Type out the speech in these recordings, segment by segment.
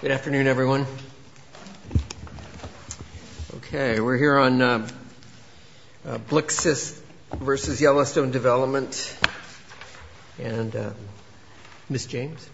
Good afternoon, everyone. Okay, we're here on Blixseth v. Yellowstone Development. And Ms. James.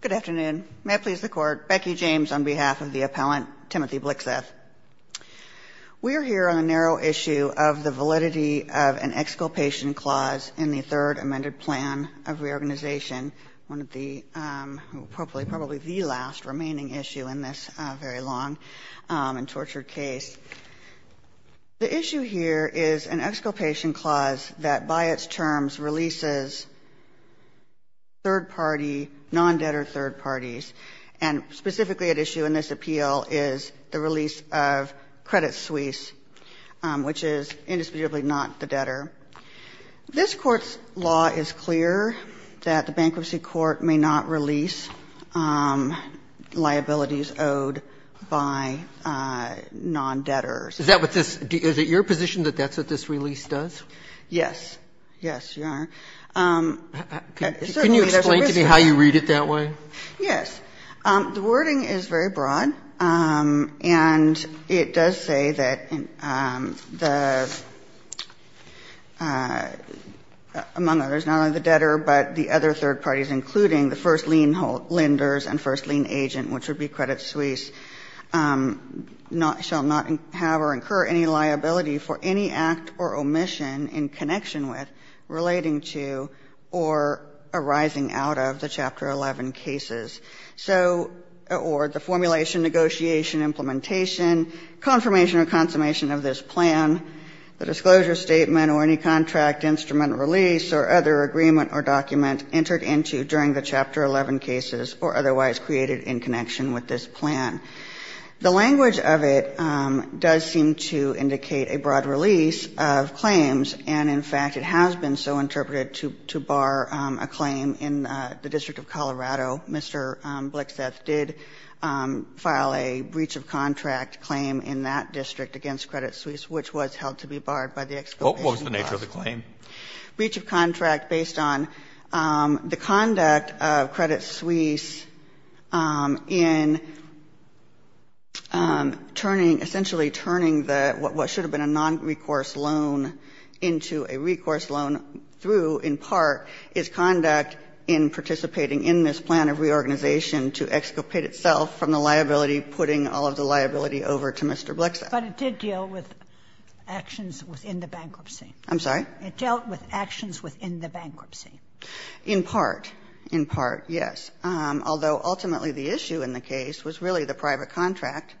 Good afternoon. May it please the Court. Becky James on behalf of the appellant, Timothy Blixseth. We are here on a narrow issue of the validity of an exculpation clause in the third amended plan of reorganization, one of the, probably the last remaining issue in this very long and tortured case. The issue here is an exculpation clause that by its terms releases third-party, non-debtor third parties. And specifically at issue in this appeal is the release of credit suisse, which is indisputably not the debtor. This Court's law is clear that the bankruptcy court may not release liabilities owed by non-debtors. Is that what this – is it your position that that's what this release does? Yes. Yes, Your Honor. Can you explain to me how you read it that way? Yes. The wording is very broad. And it does say that the, among others, not only the debtor, but the other third parties, including the first lien lenders and first lien agent, which would be credit suisse, shall not have or incur any liability for any act or omission in connection with, relating to, or arising out of the Chapter 11 cases. So, or the formulation, negotiation, implementation, confirmation or consummation of this plan, the disclosure statement or any contract instrument release or other agreement or document entered into during the Chapter 11 cases or otherwise created in connection with this plan. The language of it does seem to indicate a broad release of claims. And, in fact, it has been so interpreted to bar a claim in the District of Colorado. Mr. Blixeth did file a breach of contract claim in that district against credit suisse, which was held to be barred by the Exhibition Clause. What was the nature of the claim? Breach of contract based on the conduct of credit suisse in turning, essentially turning the, what should have been a nonrecourse loan into a recourse loan through in part is conduct in participating in this plan of reorganization to exculpate itself from the liability, putting all of the liability over to Mr. Blixeth. But it did deal with actions within the bankruptcy. I'm sorry? It dealt with actions within the bankruptcy. In part. In part, yes. Although ultimately the issue in the case was really the private contract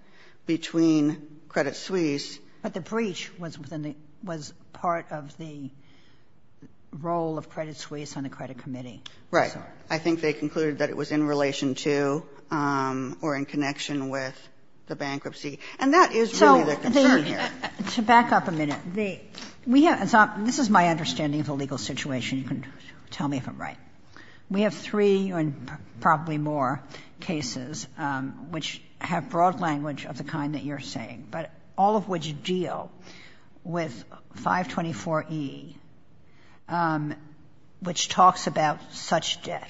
between credit suisse. But the breach was within the, was part of the role of credit suisse on the credit committee. Right. I think they concluded that it was in relation to or in connection with the bankruptcy. And that is really the concern here. To back up a minute, we have, this is my understanding of the legal situation. You can tell me if I'm right. We have three and probably more cases which have broad language of the kind that you're saying, but all of which deal with 524E, which talks about such debt,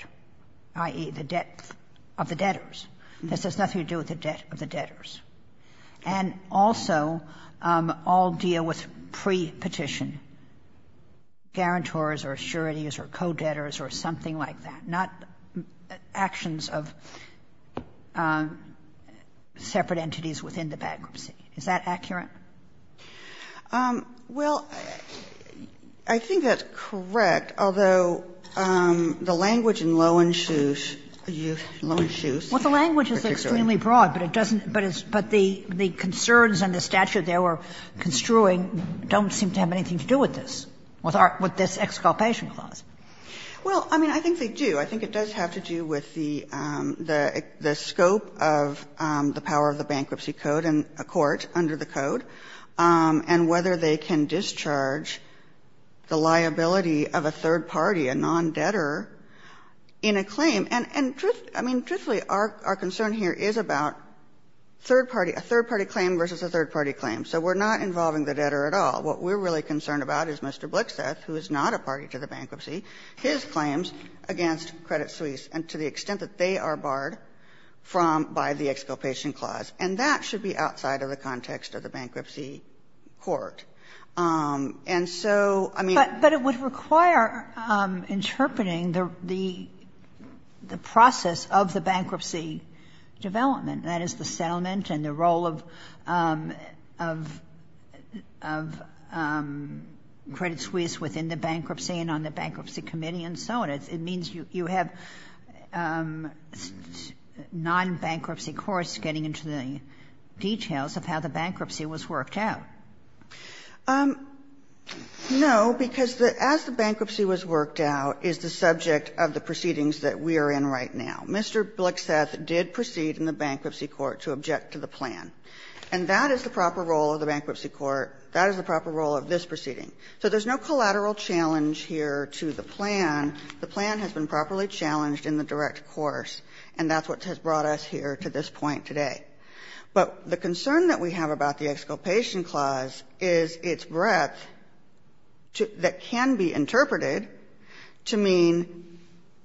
i.e., the debt of the debtors. This has nothing to do with the debt of the debtors. And also all deal with pre-petition, guarantors or assurities or co-debtors or something like that, not actions of separate entities within the bankruptcy. Is that accurate? Well, I think that's correct, although the language in Loewen suisse, Loewen suisse, particularly. It's extremely broad, but it doesn't, but it's, but the concerns and the statute they were construing don't seem to have anything to do with this, with our, with this exculpation clause. Well, I mean, I think they do. I think it does have to do with the scope of the power of the bankruptcy code in a court under the code and whether they can discharge the liability of a third party, a non-debtor, in a claim. And truthfully, I mean, truthfully, our concern here is about third party, a third party claim versus a third party claim. So we're not involving the debtor at all. What we're really concerned about is Mr. Blixeth, who is not a party to the bankruptcy, his claims against Credit Suisse and to the extent that they are barred from, by the exculpation clause. And that should be outside of the context of the bankruptcy court. And so, I mean. But it would require interpreting the process of the bankruptcy development, that is, the settlement and the role of Credit Suisse within the bankruptcy and on the bankruptcy committee and so on. It means you have non-bankruptcy courts getting into the details of how the bankruptcy was worked out. No, because as the bankruptcy was worked out is the subject of the proceedings that we are in right now. Mr. Blixeth did proceed in the bankruptcy court to object to the plan. And that is the proper role of the bankruptcy court. That is the proper role of this proceeding. So there's no collateral challenge here to the plan. The plan has been properly challenged in the direct course, and that's what has brought us here to this point today. But the concern that we have about the exculpation clause is its breadth that can be interpreted to mean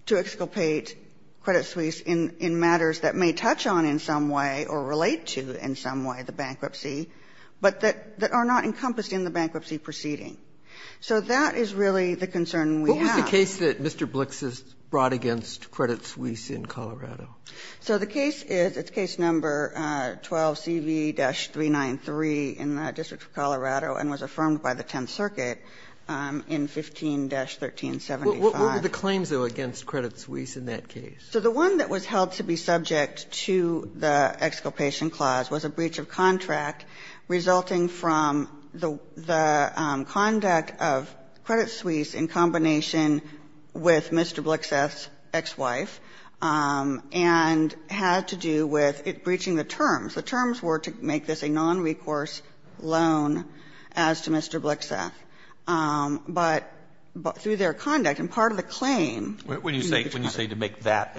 to exculpate Credit Suisse in matters that may touch on in some way or relate to, in some way, the bankruptcy, but that are not encompassed in the bankruptcy proceeding. So that is really the concern we have. Roberts, what was the case that Mr. Blixeth brought against Credit Suisse in Colorado? So the case is, it's case number 12CV-393 in the District of Colorado and was affirmed by the Tenth Circuit in 15-1375. What were the claims, though, against Credit Suisse in that case? So the one that was held to be subject to the exculpation clause was a breach of contract resulting from the conduct of Credit Suisse in combination with Mr. Blixeth, and had to do with it breaching the terms. The terms were to make this a nonrecourse loan as to Mr. Blixeth. But through their conduct, and part of the claim to make the contract. When you say to make that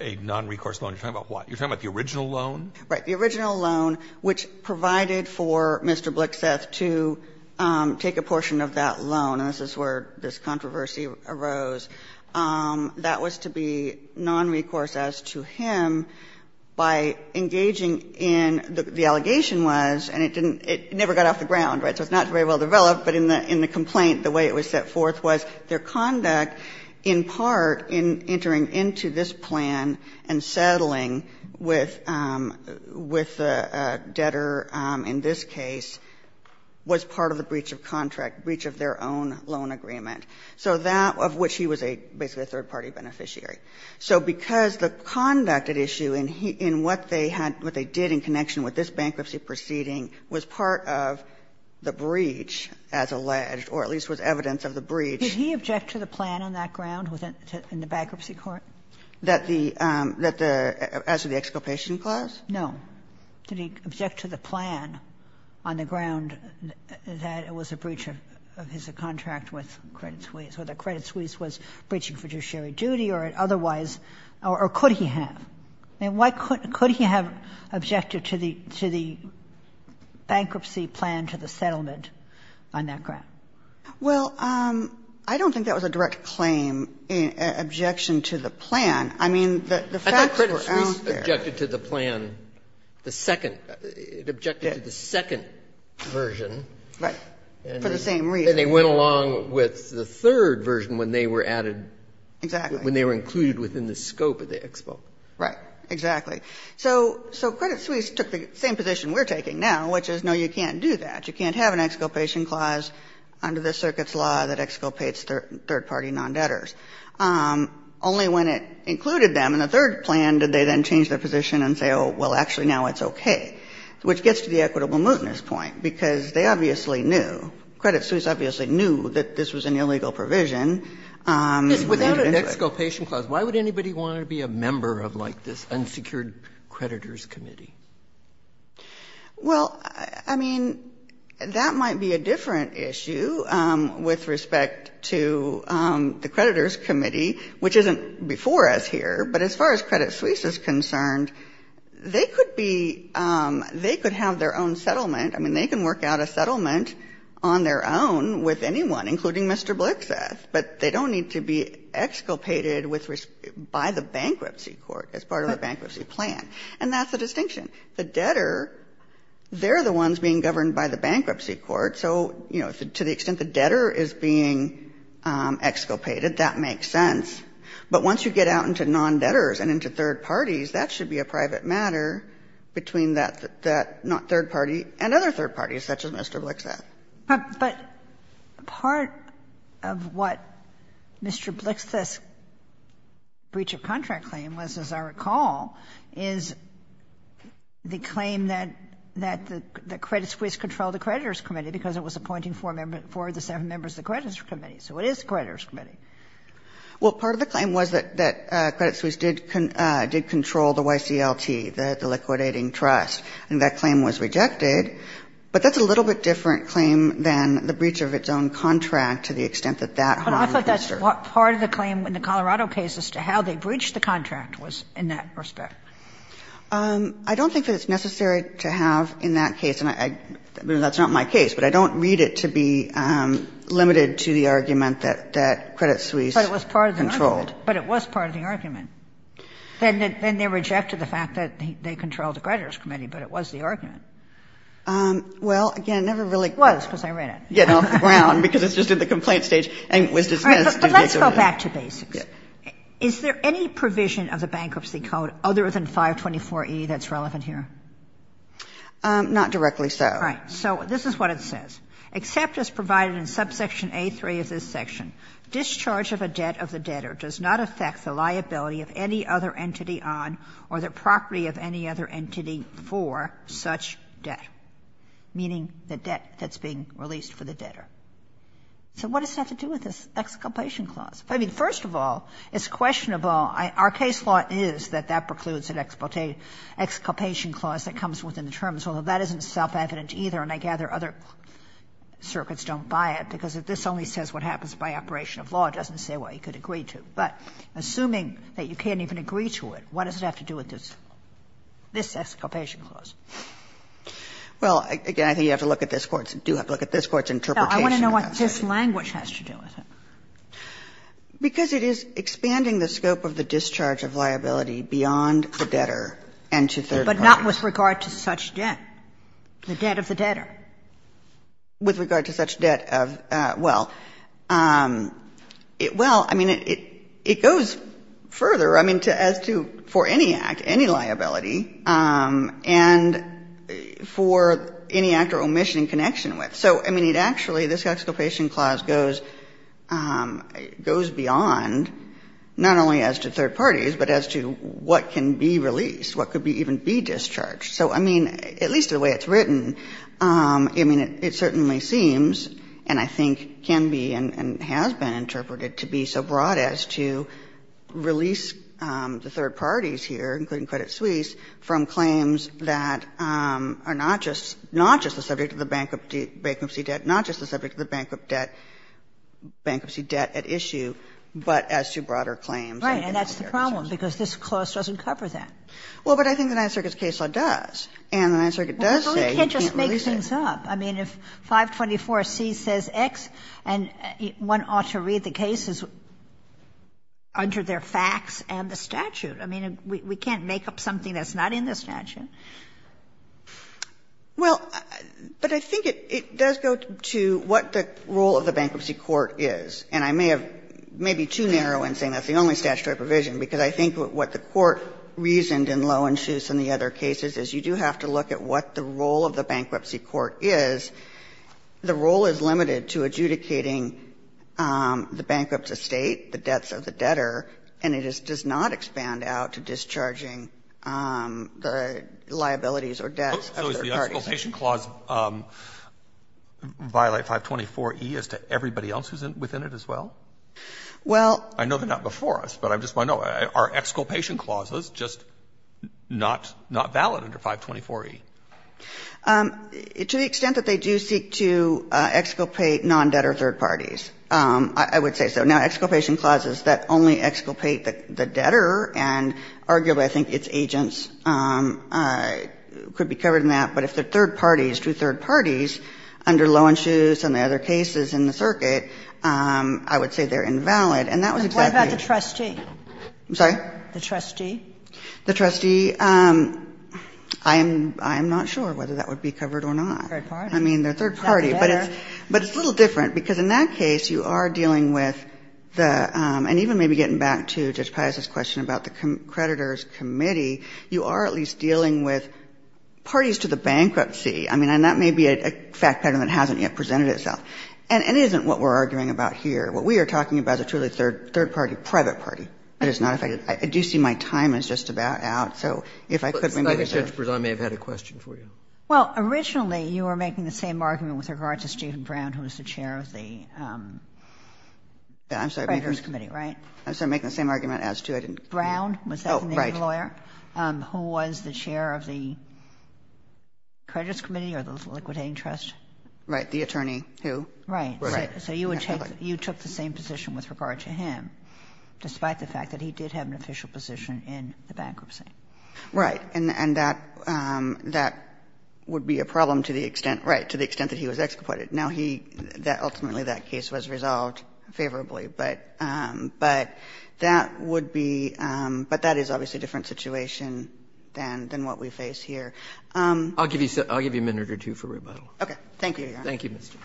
a nonrecourse loan, you're talking about what? You're talking about the original loan? Right. The original loan which provided for Mr. Blixeth to take a portion of that loan, and this is where this controversy arose, that was to be nonrecourse as to him. By engaging in, the allegation was, and it never got off the ground, right, so it's not very well developed, but in the complaint, the way it was set forth was their conduct in part in entering into this plan and settling with the debtor in this case was part of the breach of contract, breach of their own loan agreement. So that, of which he was basically a third-party beneficiary. So because the conduct at issue in what they had, what they did in connection with this bankruptcy proceeding was part of the breach, as alleged, or at least was evidence of the breach. Did he object to the plan on that ground in the bankruptcy court? That the, as to the exculpation clause? No. Did he object to the plan on the ground that it was a breach of his contract with Credit Suisse, or that Credit Suisse was breaching fiduciary duty, or otherwise, or could he have? I mean, why could he have objected to the bankruptcy plan to the settlement on that ground? Well, I don't think that was a direct claim, objection to the plan. I mean, the facts were out there. It objected to the plan, the second, it objected to the second version. Right, for the same reason. And they went along with the third version when they were added, when they were included within the scope of the expo. Right, exactly. So Credit Suisse took the same position we're taking now, which is, no, you can't do that. You can't have an exculpation clause under this circuit's law that exculpates third-party non-debtors. Only when it included them in the third plan did they then change their position and say, oh, well, actually now it's okay, which gets to the equitable mootness point, because they obviously knew, Credit Suisse obviously knew that this was an illegal provision. And they didn't say it. Without an exculpation clause, why would anybody want to be a member of, like, this unsecured creditors committee? Well, I mean, that might be a different issue with respect to the creditors committee, which isn't before us here. But as far as Credit Suisse is concerned, they could be they could have their own settlement. I mean, they can work out a settlement on their own with anyone, including Mr. Blixeth. But they don't need to be exculpated by the bankruptcy court as part of the bankruptcy plan. And that's the distinction. The debtor, they're the ones being governed by the bankruptcy court. So, you know, to the extent the debtor is being exculpated, that makes sense. But once you get out into non-debtors and into third parties, that should be a private matter between that not third party and other third parties, such as Mr. Blixeth. But part of what Mr. Blixeth's breach of contract claim was, as I recall, is the claim that the Credit Suisse controlled the creditors committee because it was appointing four members, four of the seven members of the creditors committee. So it is the creditors committee. Well, part of the claim was that Credit Suisse did control the YCLT, the liquidating trust. And that claim was rejected. But that's a little bit different claim than the breach of its own contract to the extent that that harm the investor. But I thought that's part of the claim in the Colorado case as to how they breached the contract was in that respect. I don't think that it's necessary to have in that case, and that's not my case, but I don't read it to be limited to the argument that Credit Suisse controlled. But it was part of the argument. But it was part of the argument. Then they rejected the fact that they controlled the creditors committee, but it was the argument. Well, again, never really get off the ground because it's just in the complaint stage and was dismissed. But let's go back to basics. Is there any provision of the Bankruptcy Code other than 524e that's relevant here? Not directly so. Right. So this is what it says. Except as provided in subsection A3 of this section, discharge of a debt of the debtor does not affect the liability of any other entity on or the property of any other entity for such debt, meaning the debt that's being released for the debtor. So what does that have to do with this Excavation Clause? I mean, first of all, it's questionable. Our case law is that that precludes an Excavation Clause that comes within the terms, although that isn't self-evident either, and I gather other circuits don't buy it, because if this only says what happens by operation of law, it doesn't say what you could agree to. But assuming that you can't even agree to it, what does it have to do with this Excavation Clause? Well, again, I think you have to look at this Court's interpretation. No, I want to know what this language has to do with it. Because it is expanding the scope of the discharge of liability beyond the debtor and to third parties. But not with regard to such debt, the debt of the debtor. With regard to such debt of the debtor, well, I mean, it goes further, I mean, as to for any act, any liability, and for any act or omission in connection with. So, I mean, it actually, this Excavation Clause goes beyond not only as to third parties, but as to what can be released, what could even be discharged. So, I mean, at least the way it's written, I mean, it certainly seems, and I think can be and has been interpreted to be so broad as to release the third parties here, including Credit Suisse, from claims that are not just the subject of the bankruptcy debt, not just the subject of the bankruptcy debt at issue, but as to broader claims. And that's the problem, because this clause doesn't cover that. Well, but I think the Ninth Circuit's case law does, and the Ninth Circuit does say you can't release it. Well, you can't just make things up. I mean, if 524C says X and one ought to read the cases under their facts and the statute. I mean, we can't make up something that's not in the statute. Well, but I think it does go to what the role of the bankruptcy court is. And I may have, may be too narrow in saying that's the only statutory provision, because I think what the court reasoned in Loewen-Schuss and the other cases is you do have to look at what the role of the bankruptcy court is. The role is limited to adjudicating the bankrupt estate, the debts of the debtor, and it does not expand out to discharging the liabilities or debts of third parties. So is the exculpation clause violate 524E as to everybody else who's within it as well? Well. I know they're not before us, but I just want to know, are exculpation clauses just not valid under 524E? To the extent that they do seek to exculpate non-debtor third parties, I would say so. Now, exculpation clauses that only exculpate the debtor and arguably I think its agents could be covered in that, but if they're third parties to third parties under Loewen-Schuss and the other cases in the circuit, I would say they're invalid. And that was exactly the trustee. I'm sorry? The trustee. The trustee. I am not sure whether that would be covered or not. Third party. I mean, they're third party. But it's a little different, because in that case you are dealing with the debtor and even maybe getting back to Judge Piatta's question about the creditor's committee, you are at least dealing with parties to the bankruptcy. I mean, and that may be a fact pattern that hasn't yet presented itself. And it isn't what we're arguing about here. What we are talking about is a truly third party, private party. It is not a fact pattern. I do see my time is just about out, so if I could remember. I think Judge Bresan may have had a question for you. Well, originally you were making the same argument with regard to Stephen Brown, who is the chair of the creditor's committee, right? I'm sorry, making the same argument as to? I didn't. Brown. Was that the name of the lawyer? Oh, right. Who was the chair of the creditor's committee or the liquidating trust? Right. The attorney who? Right. So you took the same position with regard to him, despite the fact that he did have an official position in the bankruptcy. Right. And that would be a problem to the extent, right, to the extent that he was excommitted. Now, he ultimately, that case was resolved favorably, but that would be — but that is obviously a different situation than what we face here. I'll give you a minute or two for rebuttal. Okay. Thank you, Your Honor. Thank you, Ms. Jones.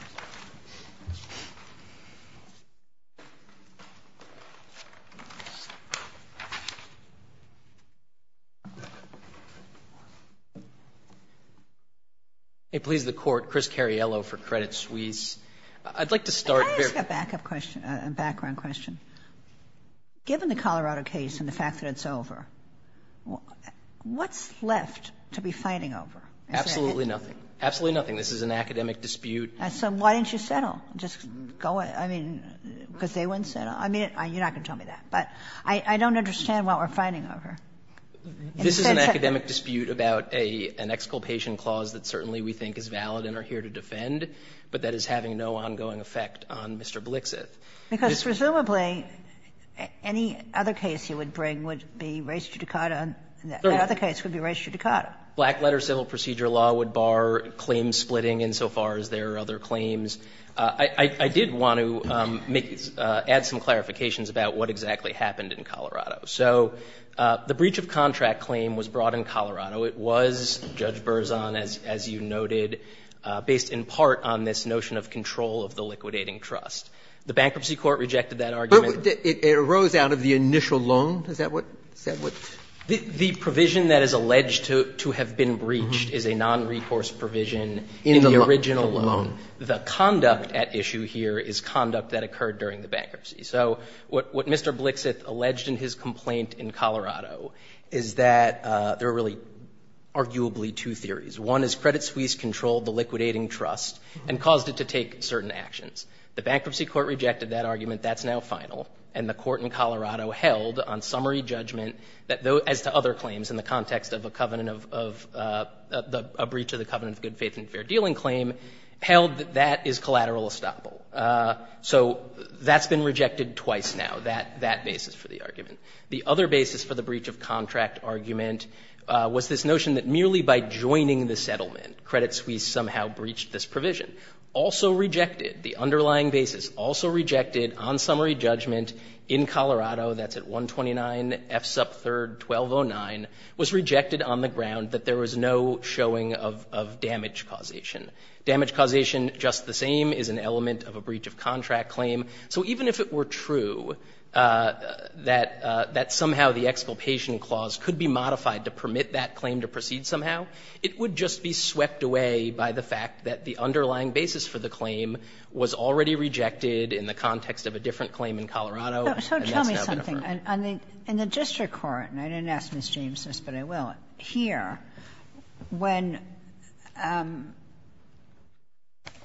May it please the Court, Chris Cariello for Credit Suisse. I'd like to start very — Can I ask a back-up question, a background question? Given the Colorado case and the fact that it's over, what's left to be fighting over? Absolutely nothing. Absolutely nothing. This is an academic dispute. So why didn't you settle? Just go — I mean, because they wouldn't settle? I mean, you're not going to tell me that. But I don't understand what we're fighting over. This is an academic dispute about an exculpation clause that certainly we think is valid and are here to defend, but that is having no ongoing effect on Mr. Blixith. Because presumably, any other case he would bring would be res judicata, and that other case would be res judicata. Black letter civil procedure law would bar claim splitting insofar as there are other claims. I did want to make — add some clarifications about what exactly happened in Colorado. So the breach of contract claim was brought in Colorado. It was, Judge Berzon, as you noted, based in part on this notion of control of the liquidating trust. The bankruptcy court rejected that argument. But it arose out of the initial loan? Is that what — is that what — The provision that is alleged to have been breached is a nonrecourse provision in the original loan. The conduct at issue here is conduct that occurred during the bankruptcy. So what Mr. Blixith alleged in his complaint in Colorado is that there are really, arguably, two theories. One is Credit Suisse controlled the liquidating trust and caused it to take certain actions. The bankruptcy court rejected that argument. That's now final. And the court in Colorado held on summary judgment that those — as to other claims in the context of a covenant of — a breach of the covenant of good faith and fair dealing claim held that that is collateral estoppel. So that's been rejected twice now, that basis for the argument. The other basis for the breach of contract argument was this notion that merely by joining the settlement, Credit Suisse somehow breached this provision. Also rejected, the underlying basis also rejected on summary judgment in Colorado, that's at 129 F. Sup. 3, 1209, was rejected on the ground that there was no showing of damage causation. Damage causation, just the same, is an element of a breach of contract claim. So even if it were true that somehow the exculpation clause could be modified to permit that claim to proceed somehow, it would just be swept away by the fact that the underlying basis for the claim was already rejected in the context of a different claim in Colorado, and that's now been affirmed. Kagan. And the district court, and I didn't ask Ms. James this, but I will, here, when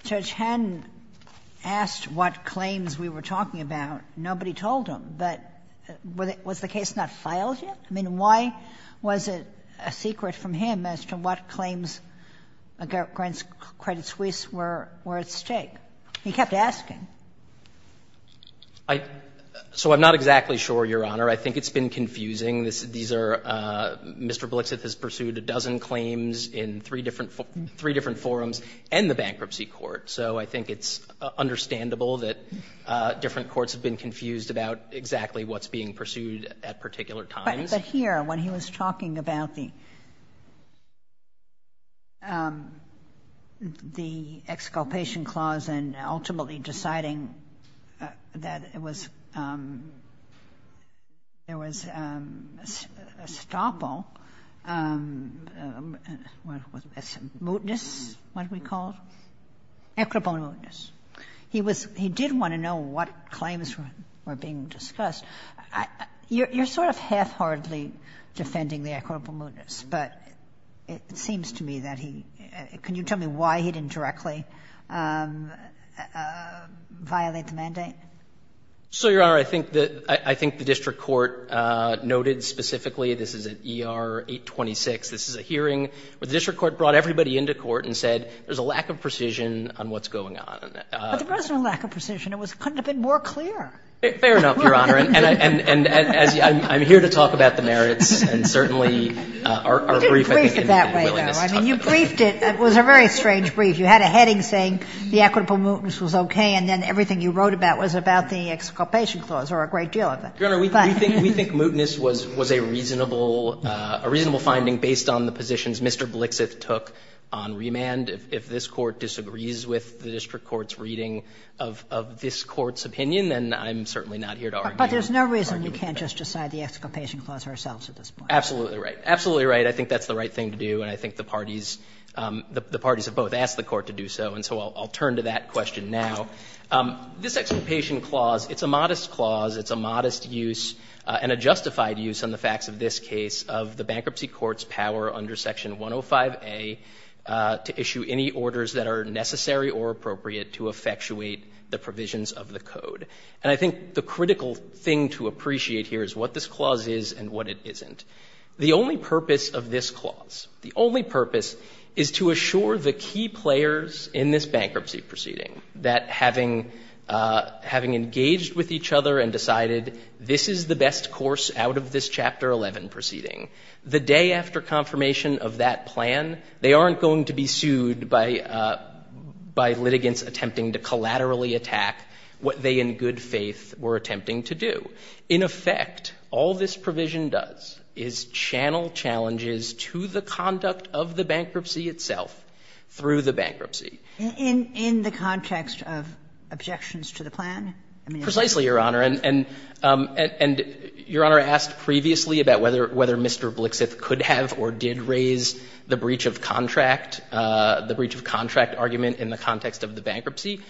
Judge Henn asked what claims we were talking about, nobody told him. But was the case not filed yet? I mean, why was it a secret from him as to what claims Grant Credit Suisse were at stake? He kept asking. So I'm not exactly sure, Your Honor. I think it's been confusing. These are Mr. Blixith has pursued a dozen claims in three different forums and the bankruptcy court. So I think it's understandable that different courts have been confused about exactly what's being pursued at particular times. But here, when he was talking about the exculpation clause and ultimately deciding that it was, there was estoppel, what was this, mootness, what we called? Equipment mootness. He was, he did want to know what claims were being discussed. You're sort of half-heartedly defending the equitable mootness, but it seems to me that he, can you tell me why he didn't directly violate the mandate? So, Your Honor, I think the district court noted specifically, this is at ER 826. This is a hearing where the district court brought everybody into court and said, there's a lack of precision on what's going on. But there wasn't a lack of precision. Fair enough, Your Honor. And I'm here to talk about the merits and certainly our brief, I think, in the willingness to talk about it. I mean, you briefed it, it was a very strange brief. You had a heading saying the equitable mootness was okay, and then everything you wrote about was about the exculpation clause, or a great deal of it. Your Honor, we think mootness was a reasonable finding based on the positions Mr. Blixeth took on remand. If this Court disagrees with the district court's reading of this Court's opinion, then I'm certainly not here to argue. But there's no reason you can't just decide the exculpation clause ourselves at this point. Absolutely right. Absolutely right. I think that's the right thing to do, and I think the parties have both asked the Court to do so. And so I'll turn to that question now. This exculpation clause, it's a modest clause, it's a modest use, and a justified use on the facts of this case of the bankruptcy court's power under Section 105A to issue any orders that are necessary or appropriate to effectuate the provisions of the code. And I think the critical thing to appreciate here is what this clause is and what it isn't. The only purpose of this clause, the only purpose is to assure the key players in this bankruptcy proceeding that having engaged with each other and decided this is the best course out of this Chapter 11 proceeding, the day after confirmation of that plan, they aren't going to be sued by litigants attempting to collaterally attack what they in good faith were attempting to do. In effect, all this provision does is channel challenges to the conduct of the bankruptcy itself through the bankruptcy. In the context of objections to the plan? Precisely, Your Honor. And Your Honor asked previously about whether Mr. Blixith could have or did raise the breach of contract, the breach of contract argument in the context of the bankruptcy.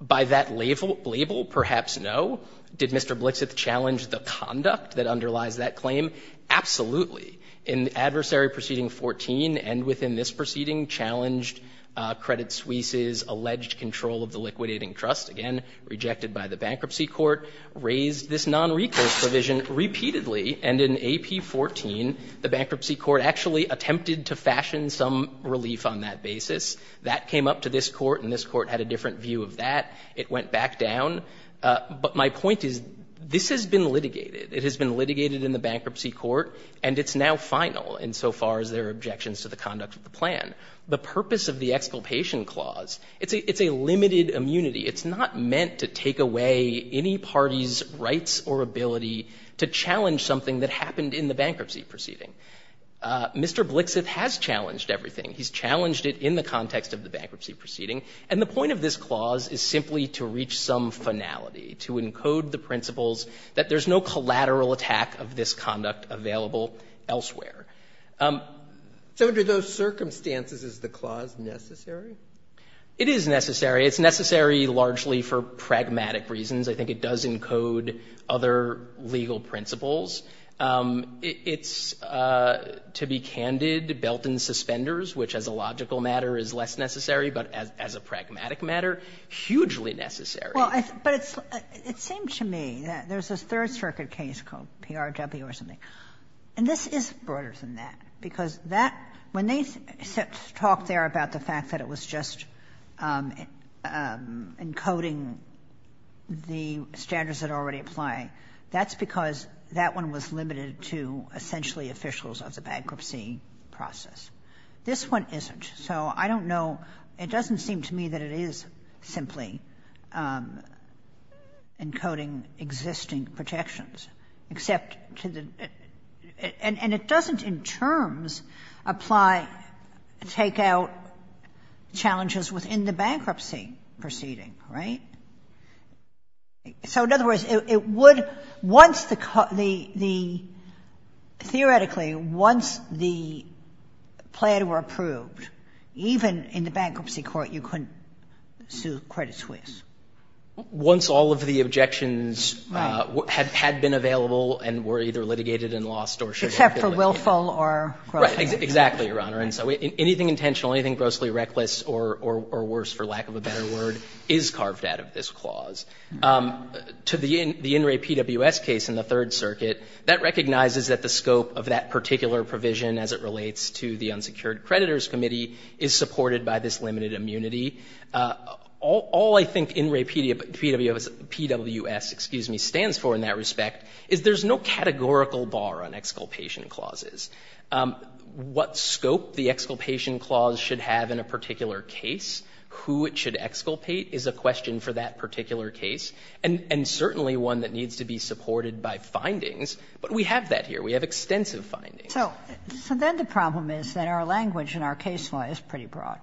By that label, perhaps no. Did Mr. Blixith challenge the conduct that underlies that claim? Absolutely. In Adversary Proceeding 14 and within this proceeding challenged Credit Suisse's alleged control of the liquidating trust, again rejected by the bankruptcy court, raised this nonrecourse provision repeatedly, and in AP 14, the bankruptcy court actually attempted to fashion some relief on that basis. That came up to this court and this court had a different view of that. It went back down. But my point is, this has been litigated. It has been litigated in the bankruptcy court, and it's now final insofar as there are objections to the conduct of the plan. The purpose of the Exculpation Clause, it's a limited immunity. It's not meant to take away any party's rights or ability to challenge something that happened in the bankruptcy proceeding. Mr. Blixith has challenged everything. He's challenged it in the context of the bankruptcy proceeding. And the point of this clause is simply to reach some finality, to encode the principles that there's no collateral attack of this conduct available elsewhere. So under those circumstances, is the clause necessary? It is necessary. It's necessary largely for pragmatic reasons. I think it does encode other legal principles. It's, to be candid, belt and suspenders, which as a logical matter is less necessary, but as a pragmatic matter, hugely necessary. Well, but it's seems to me that there's this Third Circuit case called PRW or something. And this is broader than that, because that, when they talked there about the fact that it was just encoding the standards that are already applying, that's because that one was limited to essentially officials of the bankruptcy process. This one isn't. So I don't know. It doesn't seem to me that it is simply encoding existing protections, except to the and it doesn't in terms apply, take out challenges within the bankruptcy proceeding, right? So in other words, it would, once the theoretically, once the plan were approved, even in the bankruptcy court, you couldn't sue Credit Suisse. Once all of the objections had been available and were either litigated and lost or should have been litigated. Except for willful or grossly reckless. Right, exactly, Your Honor. And so anything intentional, anything grossly reckless or worse, for lack of a better word, is carved out of this clause. To the In Re PWS case in the Third Circuit, that recognizes that the scope of that particular provision as it relates to the unsecured creditors committee is supported by this limited immunity. All I think In Re PWS, excuse me, stands for in that respect is there's no categorical bar on exculpation clauses. What scope the exculpation clause should have in a particular case, who it should exculpate is a question for that particular case, and certainly one that needs to be supported by findings. But we have that here. We have extensive findings. So then the problem is that our language and our case law is pretty broad.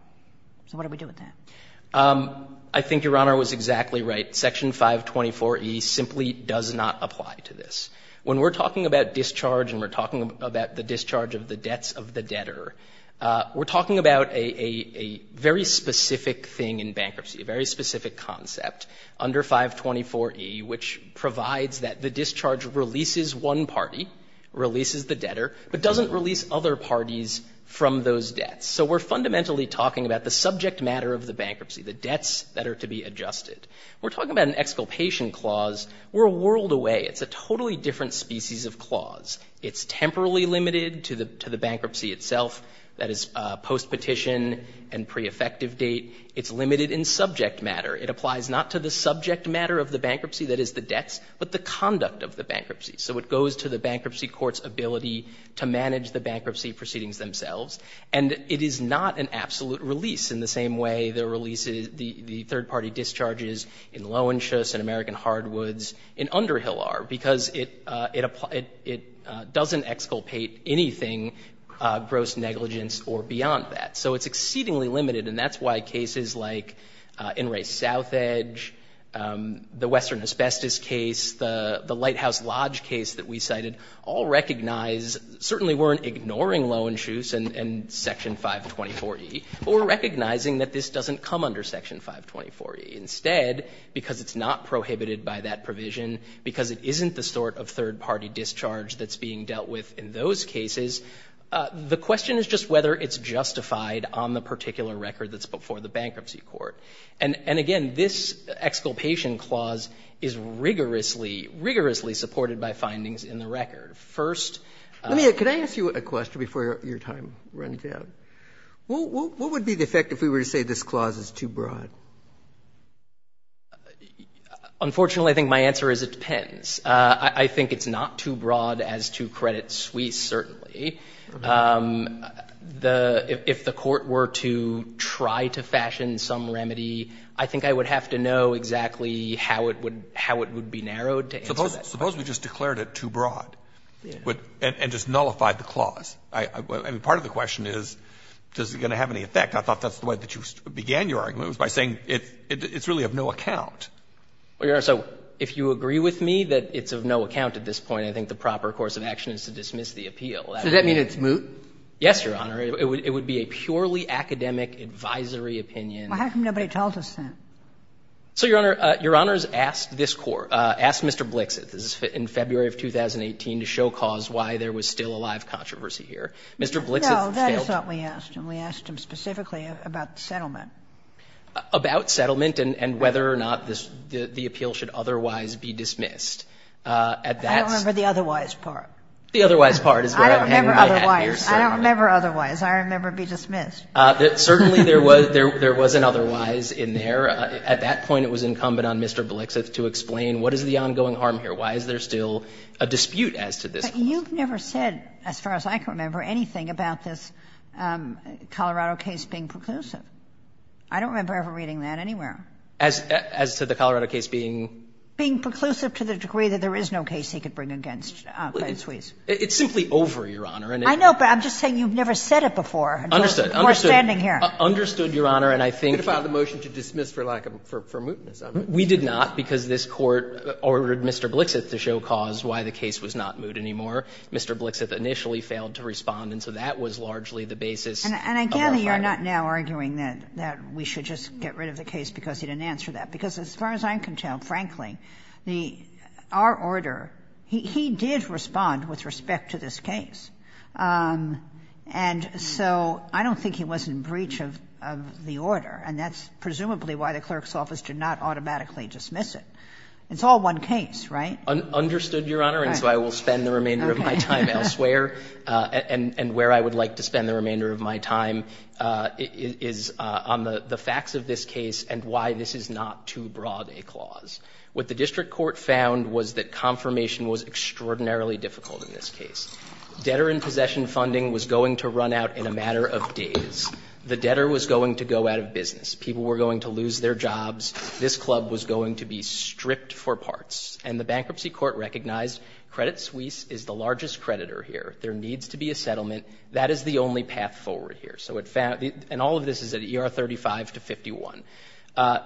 So what do we do with that? I think Your Honor was exactly right. Section 524e simply does not apply to this. When we're talking about discharge and we're talking about the discharge of the debts of the debtor, we're talking about a very specific thing in bankruptcy, a very specific concept under 524e, which provides that the discharge releases one party, releases the debtor, but doesn't release other parties from those debts. So we're fundamentally talking about the subject matter of the bankruptcy, the debts that are to be adjusted. We're talking about an exculpation clause. We're a world away. It's a totally different species of clause. It's temporally limited to the bankruptcy itself, that is, post-petition and pre-effective date. It's limited in subject matter. It applies not to the subject matter of the bankruptcy, that is, the debts, but the conduct of the bankruptcy. So it goes to the bankruptcy court's ability to manage the bankruptcy proceedings themselves. And it is not an absolute release in the same way the third-party discharges in Lowentius and American Hardwoods and Underhill are, because it doesn't exculpate anything, gross negligence, or beyond that. So it's exceedingly limited, and that's why cases like NRA Southedge, the Western Asbestos case, the Lighthouse Lodge case that we cited, all recognize, certainly weren't ignoring Lowentius and Section 524e, but were recognizing that this doesn't come under Section 524e. Instead, because it's not prohibited by that provision, because it isn't the sort of third-party discharge that's being dealt with in those cases, the question is just whether it's justified on the particular record that's before the bankruptcy court. And again, this exculpation clause is rigorously, rigorously supported by findings in the record. First of all the Robertson, let me ask you a question before your time runs out. What would be the effect if we were to say this clause is too broad? Unfortunately, I think my answer is it depends. I think it's not too broad as to credit Suisse, certainly. If the court were to try to fashion some remedy, I think I would have to know exactly how it would be narrowed to answer that question. Suppose we just declared it too broad and just nullified the clause. Part of the question is, does it going to have any effect? I thought that's the way that you began your argument, was by saying it's really of no account. Well, Your Honor, so if you agree with me that it's of no account at this point, I think the proper course of action is to dismiss the appeal. Does that mean it's moot? Yes, Your Honor. It would be a purely academic advisory opinion. Well, how come nobody told us that? So, Your Honor, Your Honor has asked this court, asked Mr. Blixit in February of 2018 to show cause why there was still a live controversy here. Mr. Blixit failed to do that. And we asked him specifically about the settlement. About settlement and whether or not the appeal should otherwise be dismissed. I don't remember the otherwise part. The otherwise part is where I'm hanging my hat, Your Honor. I don't remember otherwise. I remember be dismissed. Certainly, there was an otherwise in there. At that point, it was incumbent on Mr. Blixit to explain what is the ongoing harm here, why is there still a dispute as to this clause. But you've never said, as far as I can remember, anything about this Colorado case being preclusive. I don't remember ever reading that anywhere. As to the Colorado case being? Being preclusive to the degree that there is no case he could bring against Clay and Suize. It's simply over, Your Honor. I know, but I'm just saying you've never said it before. Understood. We're standing here. Understood, Your Honor, and I think we did not because this court ordered Mr. Blixit to show cause why the case was not moot anymore. Mr. Blixit initially failed to respond, and so that was largely the basis of our argument. And I gather you're not now arguing that we should just get rid of the case because he didn't answer that. Because as far as I'm concerned, frankly, our order, he did respond with respect to this case. And so I don't think he was in breach of the order, and that's presumably why the clerk's office did not automatically dismiss it. It's all one case, right? Understood, Your Honor, and so I will spend the remainder of my time elsewhere. And where I would like to spend the remainder of my time is on the facts of this case and why this is not too broad a clause. What the district court found was that confirmation was extraordinarily difficult in this case. Debtor in possession funding was going to run out in a matter of days. The debtor was going to go out of business. People were going to lose their jobs. This club was going to be stripped for parts. And the bankruptcy court recognized Credit Suisse is the largest creditor here. There needs to be a settlement. That is the only path forward here. So it found, and all of this is at ER 35 to 51.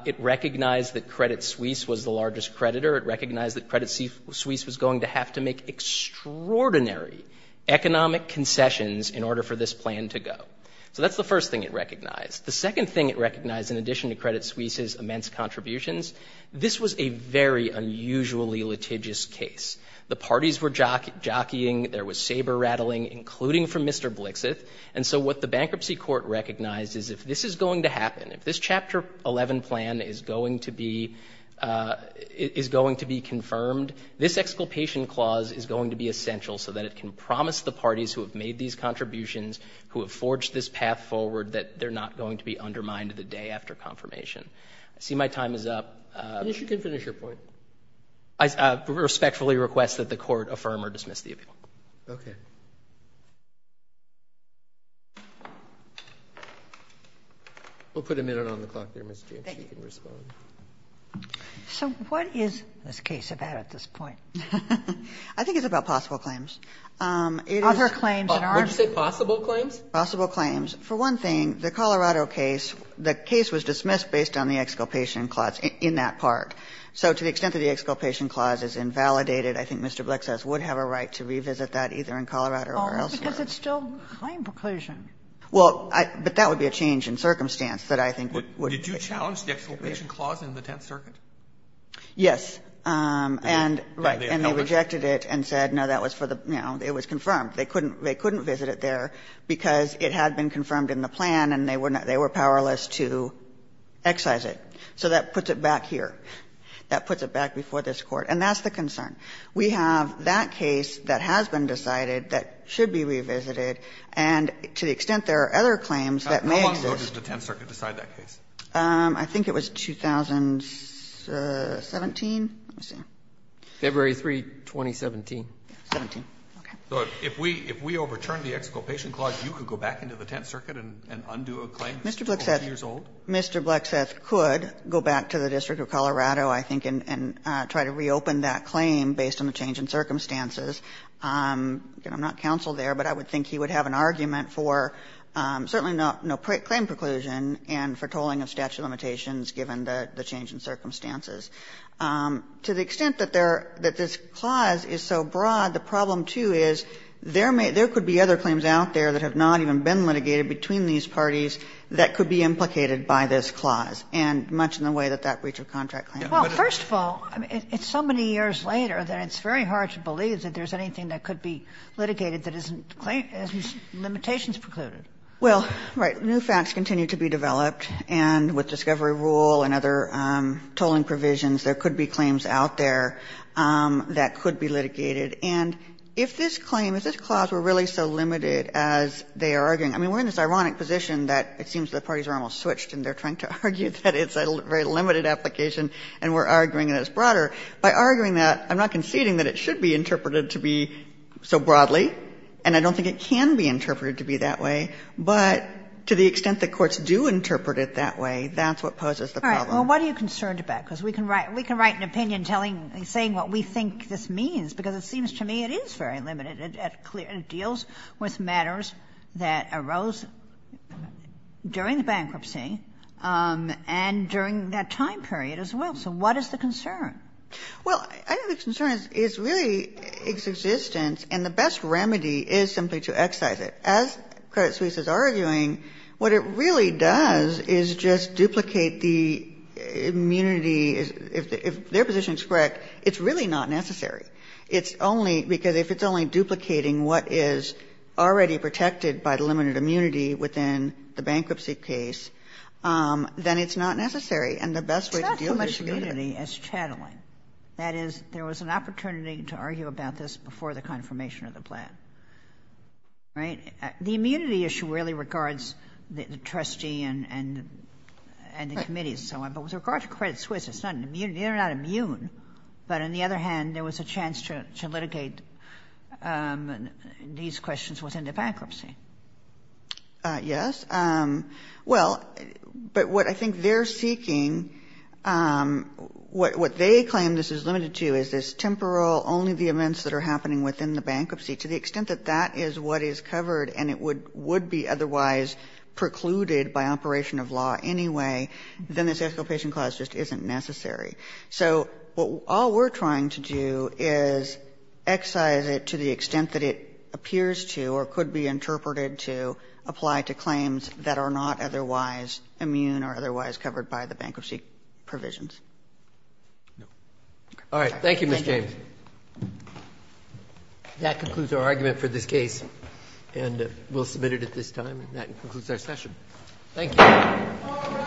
It recognized that Credit Suisse was the largest creditor. It recognized that Credit Suisse was going to have to make extraordinary economic concessions in order for this plan to go. So that's the first thing it recognized. The second thing it recognized, in addition to Credit Suisse's immense contributions, this was a very unusually litigious case. The parties were jockeying, there was saber rattling, including from Mr. Blixith, and so what the bankruptcy court recognized is if this is going to happen, if this Chapter 11 plan is going to be, is going to be confirmed, this exculpation clause is going to be essential so that it can promise the parties who have made these contributions, who have forged this path forward, that they're not going to be undermined the day after confirmation. I see my time is up. You can finish your point. I respectfully request that the court affirm or dismiss the appeal. Okay. We'll put a minute on the clock there, Ms. James, if you can respond. So what is this case about at this point? I think it's about possible claims. Other claims in our- What did you say, possible claims? Possible claims. For one thing, the Colorado case, the case was dismissed based on the exculpation clause in that part. So to the extent that the exculpation clause is invalidated, I think Mr. Blixith would have a right to revisit that either in Colorado or elsewhere. Because it's still claim preclusion. Well, but that would be a change in circumstance that I think would be a challenge. Did you challenge the exculpation clause in the Tenth Circuit? Yes. And they rejected it and said, no, that was for the, you know, it was confirmed. They couldn't visit it there because it had been confirmed in the plan and they were powerless to excise it. So that puts it back here. That puts it back before this Court. And that's the concern. We have that case that has been decided that should be revisited, and to the extent there are other claims that may exist- How long ago did the Tenth Circuit decide that case? I think it was 2017. Let me see. February 3, 2017. 17. Okay. So if we overturn the exculpation clause, you could go back into the Tenth Circuit and undo a claim that's 12 years old? Mr. Blixith could go back to the District of Colorado, I think, and try to reopen that claim based on the change in circumstances. Again, I'm not counsel there, but I would think he would have an argument for certainly no claim preclusion and for tolling of statute of limitations given the change in circumstances. To the extent that there are – that this clause is so broad, the problem, too, is there may – there could be other claims out there that have not even been litigated between these parties that could be implicated by this clause, and much in the way that that breach of contract claims. Well, first of all, it's so many years later that it's very hard to believe that there's anything that could be litigated that isn't limitations precluded. Well, right, new facts continue to be developed, and with discovery rule and other tolling provisions, there could be claims out there that could be litigated. And if this claim, if this clause were really so limited as they are arguing – I mean, we're in this ironic position that it seems the parties are almost switched and they're trying to argue that it's a very limited application and we're arguing that it's broader. By arguing that, I'm not conceding that it should be interpreted to be so broadly, and I don't think it can be interpreted to be that way, but to the extent that courts do interpret it that way, that's what poses the problem. All right. Well, what are you concerned about? Because we can write an opinion telling – saying what we think this means, because it seems to me it is very limited. It deals with matters that arose during the bankruptcy and during that time period as well. So what is the concern? Well, I think the concern is really its existence, and the best remedy is simply to excise it. As Credit Suisse is arguing, what it really does is just duplicate the immunity – if their position is correct, it's really not necessary. It's only – because if it's only duplicating what is already protected by the limited immunity within the bankruptcy case, then it's not necessary. And the best way to deal with it is to get rid of it. It's not so much immunity as chatteling. That is, there was an opportunity to argue about this before the confirmation of the plan, right? The immunity issue really regards the trustee and the committees and so on. But with regard to Credit Suisse, it's not an immunity. They're not immune. But on the other hand, there was a chance to litigate these questions within the bankruptcy. Yes. Well, but what I think they're seeking – what they claim this is limited to is this temporal, only the events that are happening within the bankruptcy, to the extent that that is what is covered and it would be otherwise precluded by operation of law anyway, then this exculpation clause just isn't necessary. So what – all we're trying to do is excise it to the extent that it appears to or could be interpreted to apply to claims that are not otherwise immune or otherwise covered by the bankruptcy provisions. All right. Thank you, Ms. James. All right. That concludes our argument for this case, and we'll submit it at this time. And that concludes our session. Thank you.